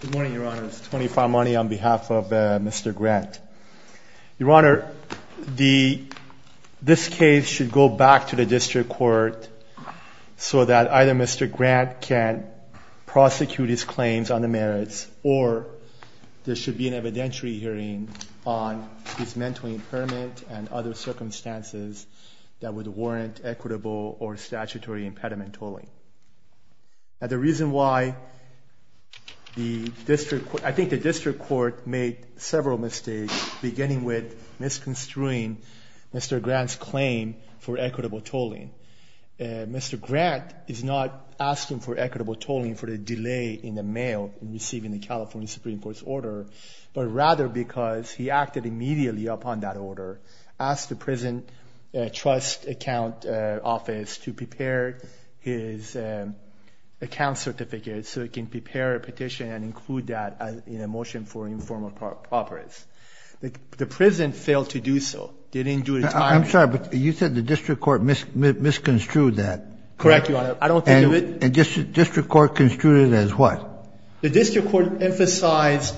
Good morning, Your Honor. Tony Farmani on behalf of Mr. Grant. Your Honor, this case should go back to the district court so that either Mr. Grant can prosecute his claims on the merits or there should be an evidentiary hearing on his mental impairment and other circumstances that would warrant equitable or statutory impediment tolling. Now the reason why the district court, I think the district court made several mistakes beginning with misconstruing Mr. Grant's claim for equitable tolling. Mr. Grant is not asking for equitable tolling for the delay in the mail in receiving the California Supreme Court's order, asked the prison trust account office to prepare his account certificate so it can prepare a petition and include that in a motion for informal properties. The prison failed to do so. They didn't do it in time. I'm sorry, but you said the district court misconstrued that. Correct, Your Honor. I don't think it was. And district court construed it as what? The district court emphasized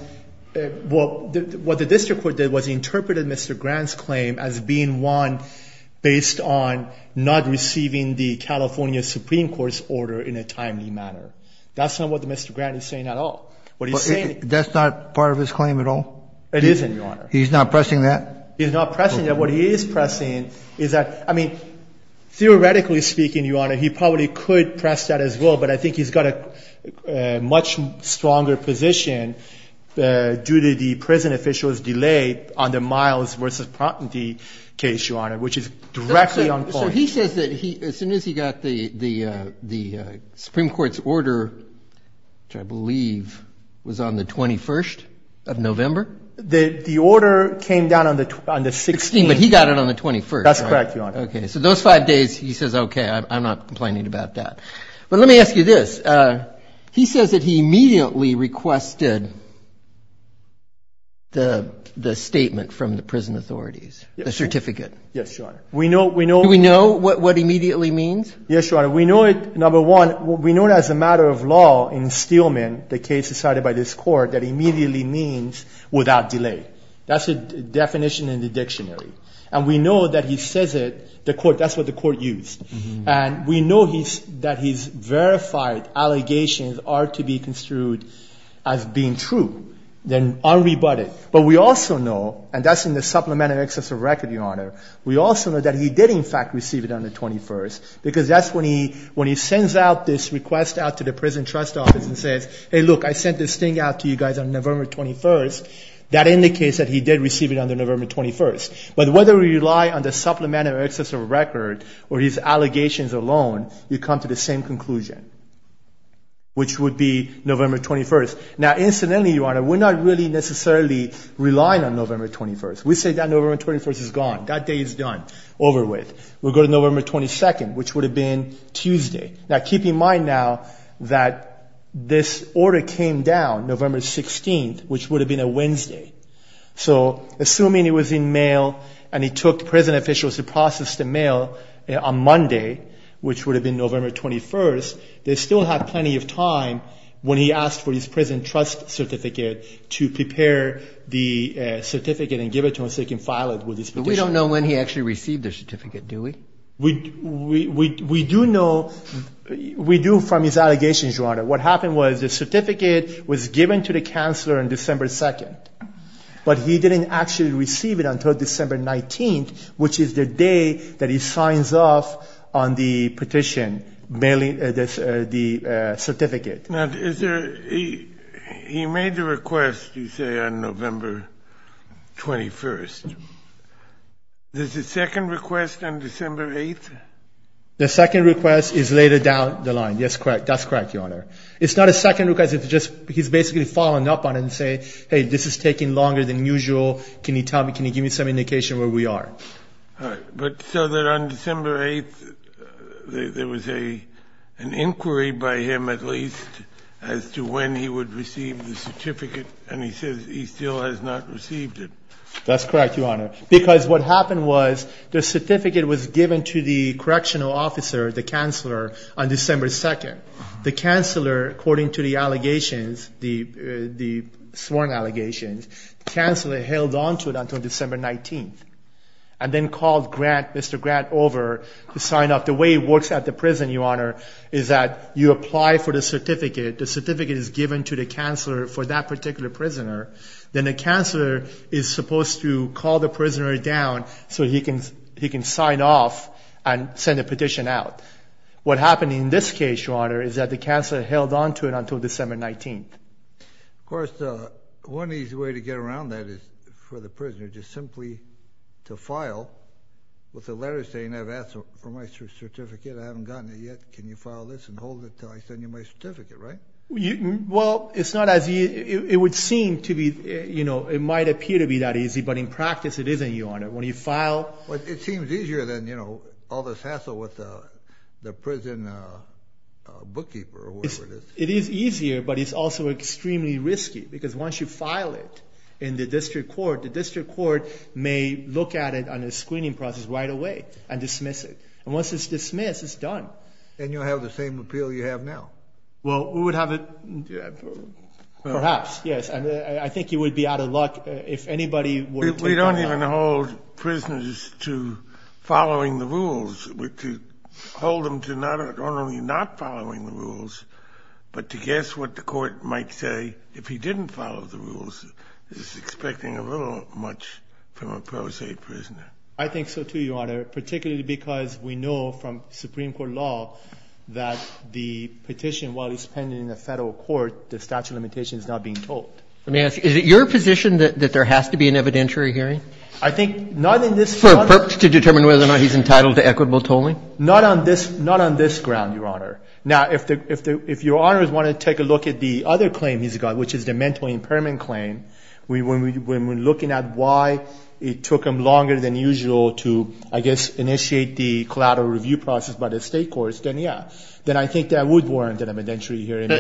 what the district court did was interpreted Mr. Grant's claim as being one based on not receiving the California Supreme Court's order in a timely manner. That's not what Mr. Grant is saying at all. That's not part of his claim at all? It isn't, Your Honor. He's not pressing that? He's not pressing that. He probably could press that as well, but I think he's got a much stronger position due to the prison officials' delay on the miles versus prompting case, Your Honor, which is directly on point. So he says that as soon as he got the Supreme Court's order, which I believe was on the 21st of November? The order came down on the 16th. But he got it on the 21st. That's correct, Your Honor. Okay. So those five days, he says, okay, I'm not complaining about that. But let me ask you this. He says that he immediately requested the statement from the prison authorities, the certificate. Yes, Your Honor. Do we know what immediately means? Yes, Your Honor. We know it, number one, we know it as a matter of law in Steelman, the case decided by this court, that immediately means without delay. That's the definition in the dictionary. And we know that he says it, the court, that's what the court used. And we know that his verified allegations are to be construed as being true, then unrebutted. But we also know, and that's in the supplement of excess of record, Your Honor, we also know that he did, in fact, receive it on the 21st, because that's when he sends out this request out to the prison trust office and says, hey, look, I sent this thing out to you guys on November 21st. That indicates that he did receive it on November 21st. But whether we rely on the supplement of excess of record or his allegations alone, you come to the same conclusion, which would be November 21st. Now, incidentally, Your Honor, we're not really necessarily relying on November 21st. We say that November 21st is gone, that day is done, over with. We go to November 22nd, which would have been Tuesday. Now, keep in mind now that this order came down November 16th, which would have been a Wednesday. So assuming it was in mail and he took prison officials to process the mail on Monday, which would have been November 21st, they still had plenty of time when he asked for his prison trust certificate to prepare the certificate and give it to him so he can file it with his petition. But we don't know when he actually received the certificate, do we? We do know, we do from his allegations, Your Honor. What happened was the certificate was given to the counselor on December 2nd. But he didn't actually receive it until December 19th, which is the day that he signs off on the petition, mailing the certificate. Now, is there he made the request, you say, on November 21st. Is the second request on December 8th? The second request is later down the line. That's correct, Your Honor. It's not a second request. He's basically following up on it and saying, hey, this is taking longer than usual. Can you give me some indication of where we are? But so that on December 8th, there was an inquiry by him at least as to when he would receive the certificate, and he says he still has not received it. That's correct, Your Honor, because what happened was the certificate was given to the correctional officer, the counselor, on December 2nd. The counselor, according to the allegations, the sworn allegations, the counselor held onto it until December 19th and then called Grant, Mr. Grant, over to sign off. The way it works at the prison, Your Honor, is that you apply for the certificate. The certificate is given to the counselor for that particular prisoner. Then the counselor is supposed to call the prisoner down so he can sign off and send a petition out. What happened in this case, Your Honor, is that the counselor held onto it until December 19th. Of course, one easy way to get around that is for the prisoner just simply to file with a letter saying, I've asked for my certificate. I haven't gotten it yet. Can you file this and hold it until I send you my certificate, right? Well, it's not as easy. It would seem to be, you know, it might appear to be that easy, but in practice it isn't, Your Honor. When you file... Well, it seems easier than, you know, all this hassle with the prison bookkeeper or whatever it is. It is easier, but it's also extremely risky because once you file it in the district court, the district court may look at it on a screening process right away and dismiss it. And once it's dismissed, it's done. And you'll have the same appeal you have now. Well, we would have it... Perhaps, yes, and I think you would be out of luck if anybody were to... We don't even hold prisoners to following the rules. We hold them to not only not following the rules, but to guess what the court might say if he didn't follow the rules is expecting a little much from a pro se prisoner. I think so, too, Your Honor, particularly because we know from Supreme Court law that the petition, while it's pending in the federal court, the statute of limitations is not being told. Let me ask you, is it your position that there has to be an evidentiary hearing? I think not in this... For a purpose to determine whether or not he's entitled to equitable tolling? Not on this ground, Your Honor. Now, if Your Honors want to take a look at the other claim he's got, which is the mental impairment claim, when we're looking at why it took him longer than usual to, I guess, initiate the collateral review process by the state courts, then, yeah, then I think that would warrant an evidentiary hearing.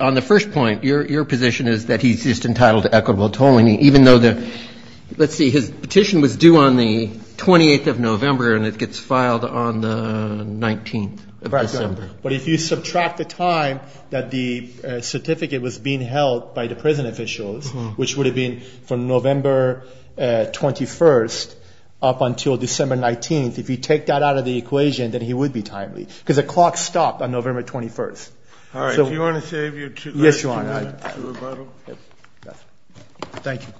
On the first point, your position is that he's just entitled to equitable tolling, even though the... Let's see, his petition was due on the 28th of November, and it gets filed on the 19th of December. But if you subtract the time that the certificate was being held by the prison officials, which would have been from November 21st up until December 19th, if you take that out of the equation, then he would be timely, because the clock stopped on November 21st. All right. Do you want to save your two minutes to rebuttal? Yes, Your Honor. Thank you.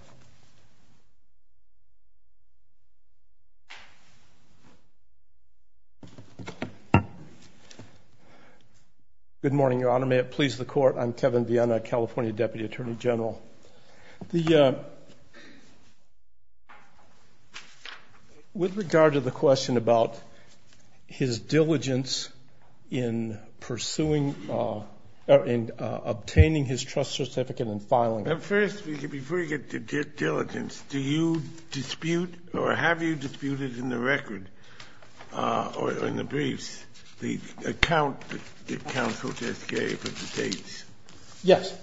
Good morning, Your Honor. May it please the Court. I'm Kevin Viena, California Deputy Attorney General. With regard to the question about his diligence in pursuing or in obtaining his trust certificate and filing it. First, before you get to diligence, do you dispute or have you disputed in the record or in the briefs the account that counsel just gave of the dates? Yes,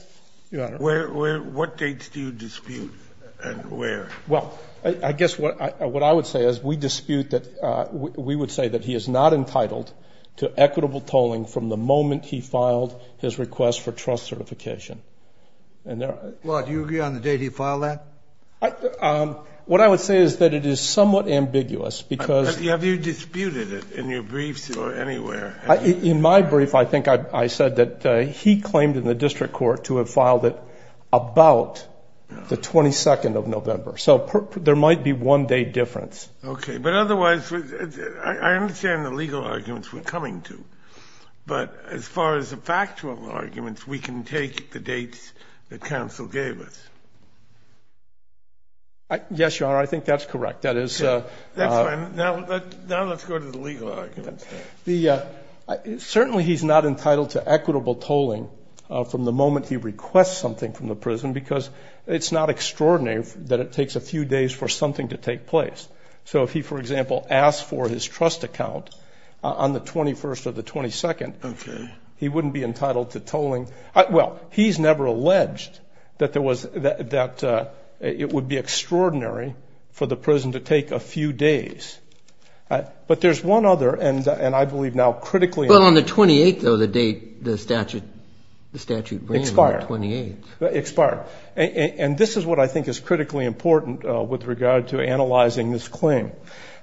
Your Honor. What dates do you dispute and where? Well, I guess what I would say is we dispute that we would say that he is not entitled to equitable tolling from the moment he filed his request for trust certification. Well, do you agree on the date he filed that? What I would say is that it is somewhat ambiguous, because... Well, have you disputed it in your briefs or anywhere? In my brief, I think I said that he claimed in the district court to have filed it about the 22nd of November. So there might be one day difference. Okay. But otherwise, I understand the legal arguments we're coming to. But as far as the factual arguments, we can take the dates that counsel gave us. Yes, Your Honor, I think that's correct. That's fine. Now let's go to the legal arguments. Certainly he's not entitled to equitable tolling from the moment he requests something from the prison, because it's not extraordinary that it takes a few days for something to take place. So if he, for example, asked for his trust account on the 21st or the 22nd, he wouldn't be entitled to tolling. Well, he's never alleged that it would be extraordinary for the prison to take a few days. But there's one other, and I believe now critically... Well, on the 28th, though, the statute ran on the 28th. Expired. Expired. And this is what I think is critically important with regard to analyzing this claim.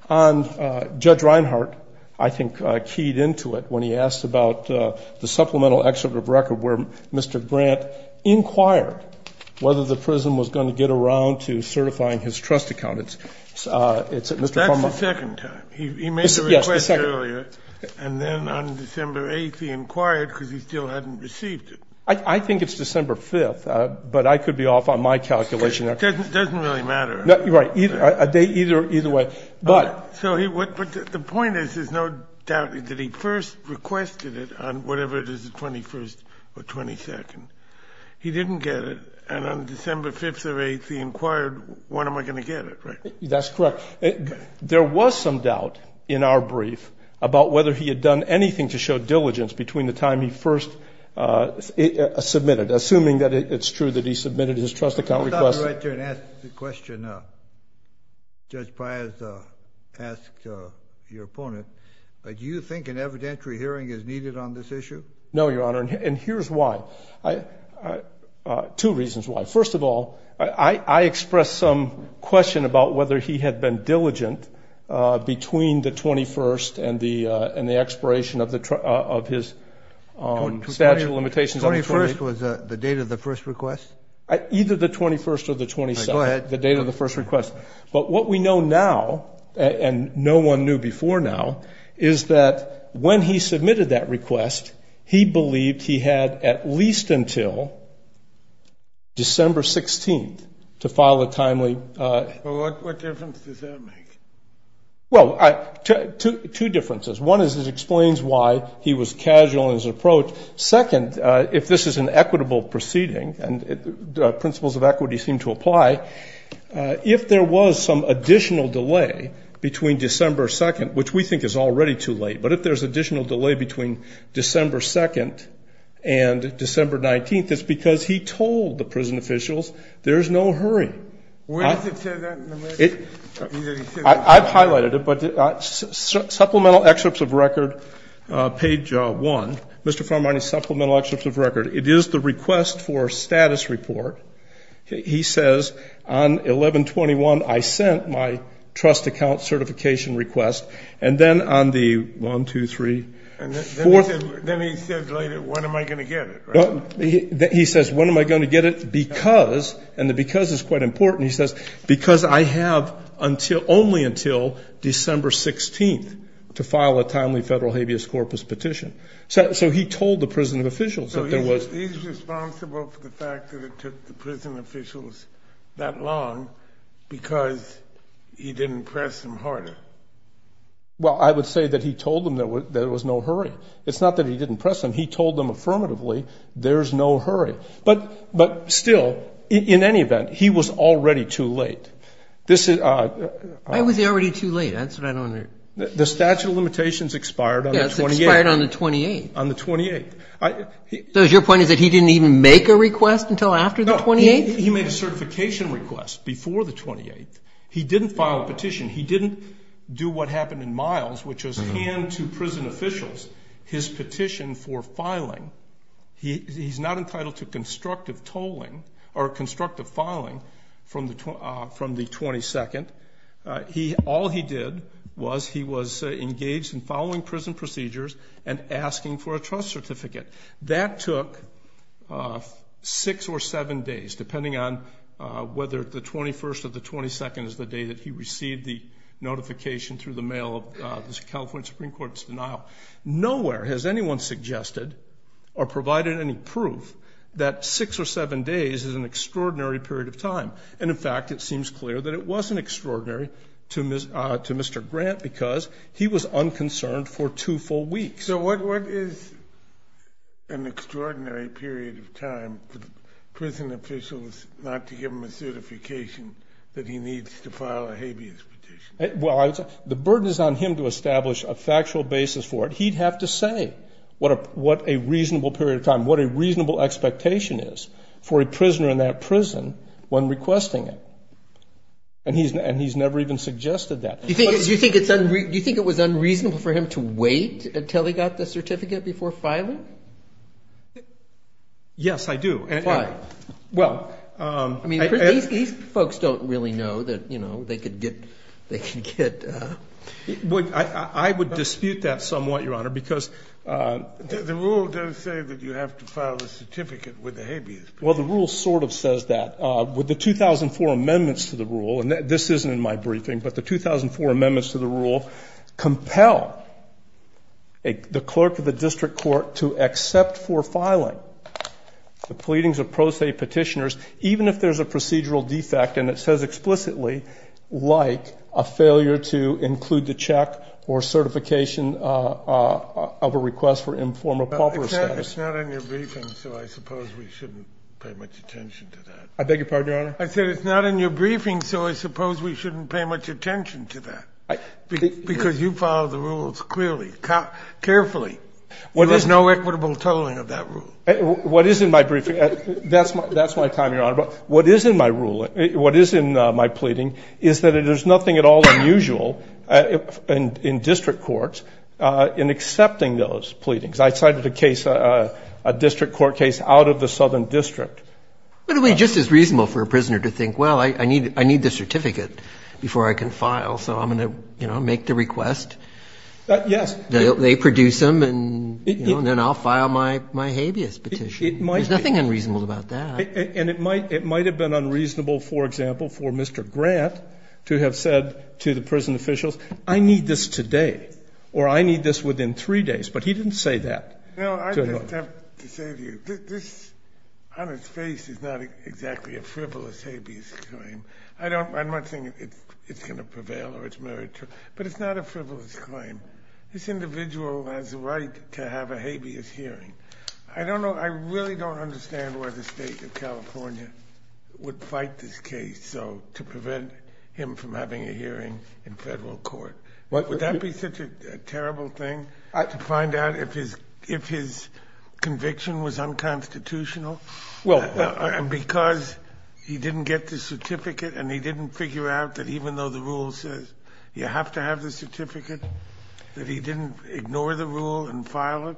And Judge Reinhart, I think, keyed into it when he asked about the supplemental excerpt of record where Mr. Grant inquired whether the prison was going to get around to certifying his trust account. It's at Mr. Carman. That's the second time. He made the request earlier, and then on December 8th, he inquired because he still hadn't received it. I think it's December 5th, but I could be off on my calculation. It doesn't really matter. Right. Either way. So the point is there's no doubt that he first requested it on whatever it is, the 21st or 22nd. He didn't get it. And on December 5th or 8th, he inquired, when am I going to get it, right? That's correct. There was some doubt in our brief about whether he had done anything to show diligence between the time he first submitted, assuming that it's true that he submitted his trust account request. Let me go right there and ask the question Judge Pius asked your opponent. Do you think an evidentiary hearing is needed on this issue? No, Your Honor, and here's why. Two reasons why. First of all, I expressed some question about whether he had been diligent between the 21st and the expiration of his statute of limitations. 21st was the date of the first request? Either the 21st or the 22nd. Go ahead. The date of the first request. But what we know now, and no one knew before now, is that when he submitted that request, he believed he had at least until December 16th to file a timely. What difference does that make? Well, two differences. One is it explains why he was casual in his approach. Second, if this is an equitable proceeding, and principles of equity seem to apply, if there was some additional delay between December 2nd, which we think is already too late, but if there's additional delay between December 2nd and December 19th, it's because he told the prison officials there's no hurry. Where does it say that in the record? I've highlighted it, but supplemental excerpts of record, page 1. Mr. Farmani's supplemental excerpts of record. It is the request for status report. He says, on 11-21, I sent my trust account certification request. And then on the 1, 2, 3, 4. And then he said later, when am I going to get it, right? He says, when am I going to get it? Because, and the because is quite important, he says, because I have only until December 16th to file a timely federal habeas corpus petition. So he told the prison officials that there was. So he's responsible for the fact that it took the prison officials that long because he didn't press them harder. Well, I would say that he told them there was no hurry. It's not that he didn't press them. He told them affirmatively there's no hurry. But still, in any event, he was already too late. Why was he already too late? That's what I don't understand. The statute of limitations expired on the 28th. Expired on the 28th. On the 28th. So your point is that he didn't even make a request until after the 28th? No, he made a certification request before the 28th. He didn't file a petition. He didn't do what happened in Miles, which was hand to prison officials his petition for filing. He's not entitled to constructive tolling or constructive filing from the 22nd. All he did was he was engaged in following prison procedures and asking for a trust certificate. That took six or seven days, depending on whether the 21st or the 22nd is the day that he received the notification through the mail of the California Supreme Court's denial. Nowhere has anyone suggested or provided any proof that six or seven days is an extraordinary period of time. And, in fact, it seems clear that it wasn't extraordinary to Mr. Grant because he was unconcerned for two full weeks. So what is an extraordinary period of time for prison officials not to give him a certification that he needs to file a habeas petition? The burden is on him to establish a factual basis for it. He'd have to say what a reasonable period of time, what a reasonable expectation is for a prisoner in that prison when requesting it. And he's never even suggested that. Do you think it was unreasonable for him to wait until he got the certificate before filing? Yes, I do. Why? Well, I mean, these folks don't really know that, you know, they could get- I would dispute that somewhat, Your Honor, because- The rule does say that you have to file a certificate with a habeas petition. Well, the rule sort of says that. With the 2004 amendments to the rule, and this isn't in my briefing, but the 2004 amendments to the rule compel the clerk of the district court to accept for filing the pleadings of pro se petitioners, even if there's a procedural defect, and it says explicitly, like a failure to include the check or certification of a request for informal proper status. It's not in your briefing, so I suppose we shouldn't pay much attention to that. I beg your pardon, Your Honor? I said it's not in your briefing, so I suppose we shouldn't pay much attention to that. Because you follow the rules clearly, carefully. There is no equitable tolling of that rule. What is in my briefing, that's my time, Your Honor. But what is in my ruling, what is in my pleading, is that there's nothing at all unusual in district courts in accepting those pleadings. I cited a case, a district court case, out of the Southern District. But it would be just as reasonable for a prisoner to think, well, I need the certificate before I can file, so I'm going to, you know, make the request. Yes. They produce them, and then I'll file my habeas petition. It might be. There's nothing unreasonable about that. And it might have been unreasonable, for example, for Mr. Grant to have said to the prison officials, I need this today, or I need this within three days. But he didn't say that. No, I just have to say to you, this, on its face, is not exactly a frivolous habeas claim. I don't think it's going to prevail or it's meritorious. But it's not a frivolous claim. This individual has a right to have a habeas hearing. I don't know. I really don't understand why the State of California would fight this case to prevent him from having a hearing in federal court. Would that be such a terrible thing, to find out if his conviction was unconstitutional? Because he didn't get the certificate and he didn't figure out that even though the rule says you have to have the certificate, that he didn't ignore the rule and file it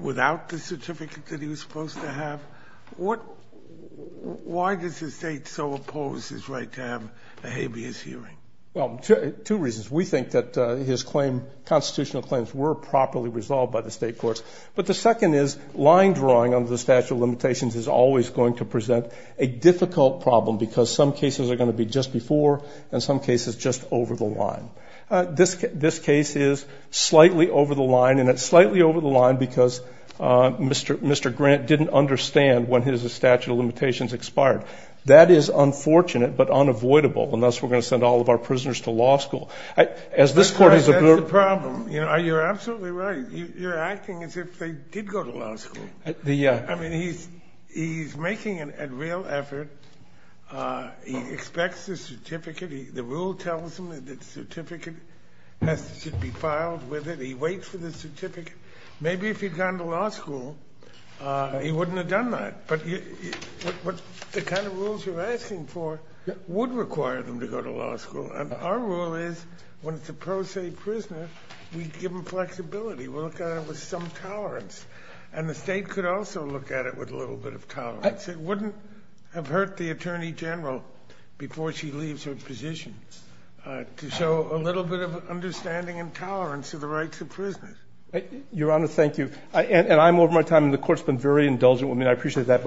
without the certificate that he was supposed to have? Why does the State so oppose his right to have a habeas hearing? Well, two reasons. We think that his constitutional claims were properly resolved by the state courts. But the second is line drawing under the statute of limitations is always going to present a difficult problem because some cases are going to be just before and some cases just over the line. This case is slightly over the line, and it's slightly over the line because Mr. Grant didn't understand when his statute of limitations expired. That is unfortunate but unavoidable, and thus we're going to send all of our prisoners to law school. That's the problem. You're absolutely right. You're acting as if they did go to law school. I mean, he's making a real effort. He expects the certificate. The rule tells him that the certificate has to be filed with it. He waits for the certificate. Maybe if he'd gone to law school, he wouldn't have done that. But the kind of rules you're asking for would require them to go to law school. And our rule is when it's a pro se prisoner, we give them flexibility. We'll look at it with some tolerance. And the State could also look at it with a little bit of tolerance. It wouldn't have hurt the Attorney General before she leaves her position to show a little bit of understanding and tolerance of the rights of prisoners. Your Honor, thank you. And I'm over my time, and the Court's been very indulgent with me, and I appreciate that.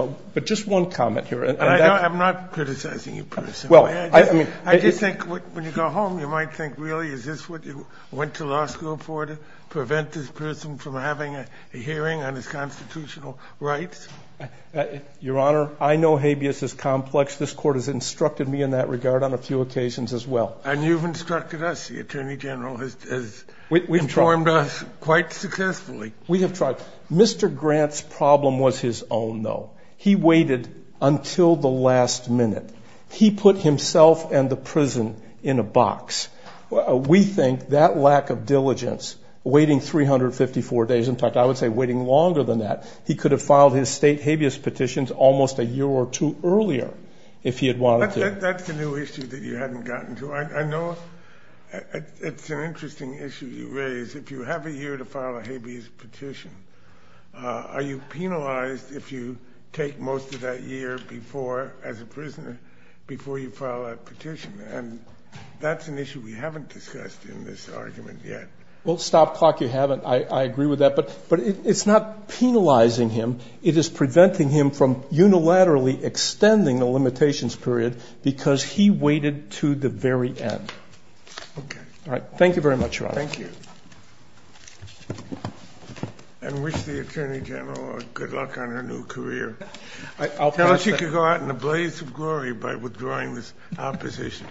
I'm not criticizing you, Bruce. I just think when you go home, you might think, really, is this what you went to law school for, to prevent this person from having a hearing on his constitutional rights? Your Honor, I know habeas is complex. This Court has instructed me in that regard on a few occasions as well. And you've instructed us. The Attorney General has informed us quite successfully. We have tried. Mr. Grant's problem was his own, though. He waited until the last minute. He put himself and the prison in a box. We think that lack of diligence, waiting 354 days, in fact, I would say waiting longer than that, he could have filed his State habeas petitions almost a year or two earlier if he had wanted to. That's a new issue that you hadn't gotten to. to file a habeas petition? Are you penalized if you take most of that year before, as a prisoner, before you file a petition? And that's an issue we haven't discussed in this argument yet. Well, stop clock, you haven't. I agree with that. But it's not penalizing him. It is preventing him from unilaterally extending the limitations period because he waited to the very end. Okay. All right. Thank you very much, Your Honor. Thank you. And wish the Attorney General good luck on her new career. Tell her she can go out in a blaze of glory by withdrawing this opposition.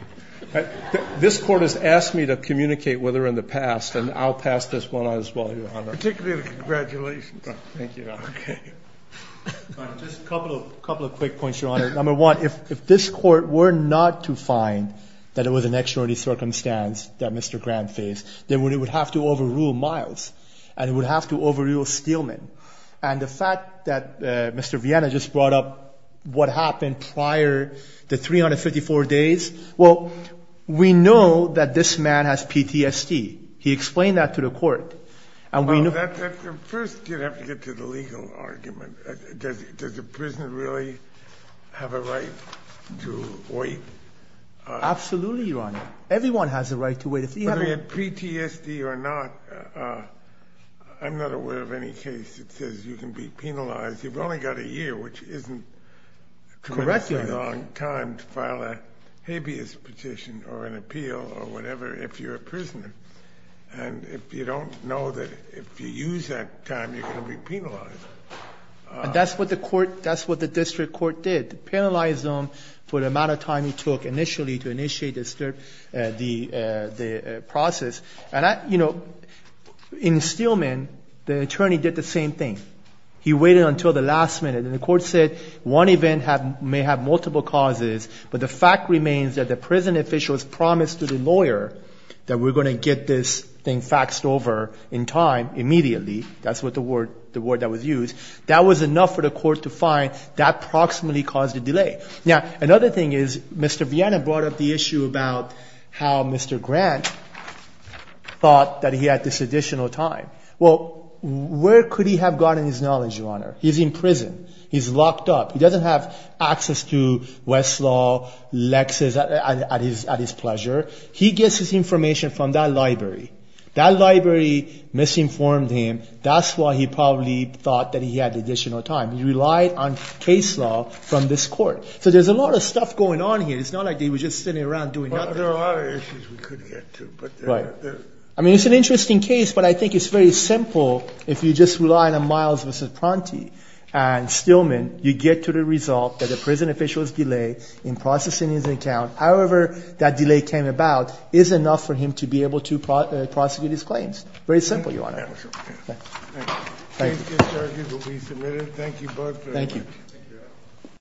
This Court has asked me to communicate with her in the past, and I'll pass this one on as well, Your Honor. Particularly the congratulations. Thank you, Your Honor. Okay. Just a couple of quick points, Your Honor. Number one, if this Court were not to find that it was an extraordinary circumstance that Mr. Grant faced, then it would have to overrule Miles, and it would have to overrule Steelman. And the fact that Mr. Vienna just brought up what happened prior to 354 days, well, we know that this man has PTSD. He explained that to the Court. First, you'd have to get to the legal argument. Does a prisoner really have a right to wait? Absolutely, Your Honor. Everyone has a right to wait. Whether you have PTSD or not, I'm not aware of any case that says you can be penalized. You've only got a year, which isn't quite a long time to file a habeas petition or an appeal or whatever if you're a prisoner. And if you don't know that if you use that time, you're going to be penalized. And that's what the District Court did, penalized him for the amount of time it took initially to initiate the process. And, you know, in Steelman, the attorney did the same thing. He waited until the last minute, and the Court said one event may have multiple causes, but the fact remains that the prison officials promised to the lawyer that we're going to get this thing faxed over in time immediately. That's the word that was used. That was enough for the Court to find that approximately caused a delay. Now, another thing is Mr. Vienna brought up the issue about how Mr. Grant thought that he had this additional time. Well, where could he have gotten his knowledge, Your Honor? He's in prison. He's locked up. He doesn't have access to Westlaw, Lexis at his pleasure. He gets his information from that library. That library misinformed him. That's why he probably thought that he had additional time. He relied on case law from this Court. So there's a lot of stuff going on here. It's not like they were just sitting around doing nothing. Well, there are other issues we could get to. Right. I mean, it's an interesting case, but I think it's very simple if you just rely on Miles v. Pronti and Steelman. You get to the result that a prison official's delay in processing his account, however that delay came about, is enough for him to be able to prosecute his claims. Very simple, Your Honor. Thank you. Thank you. Please get started. You will be submitted. Thank you both very much. Thank you.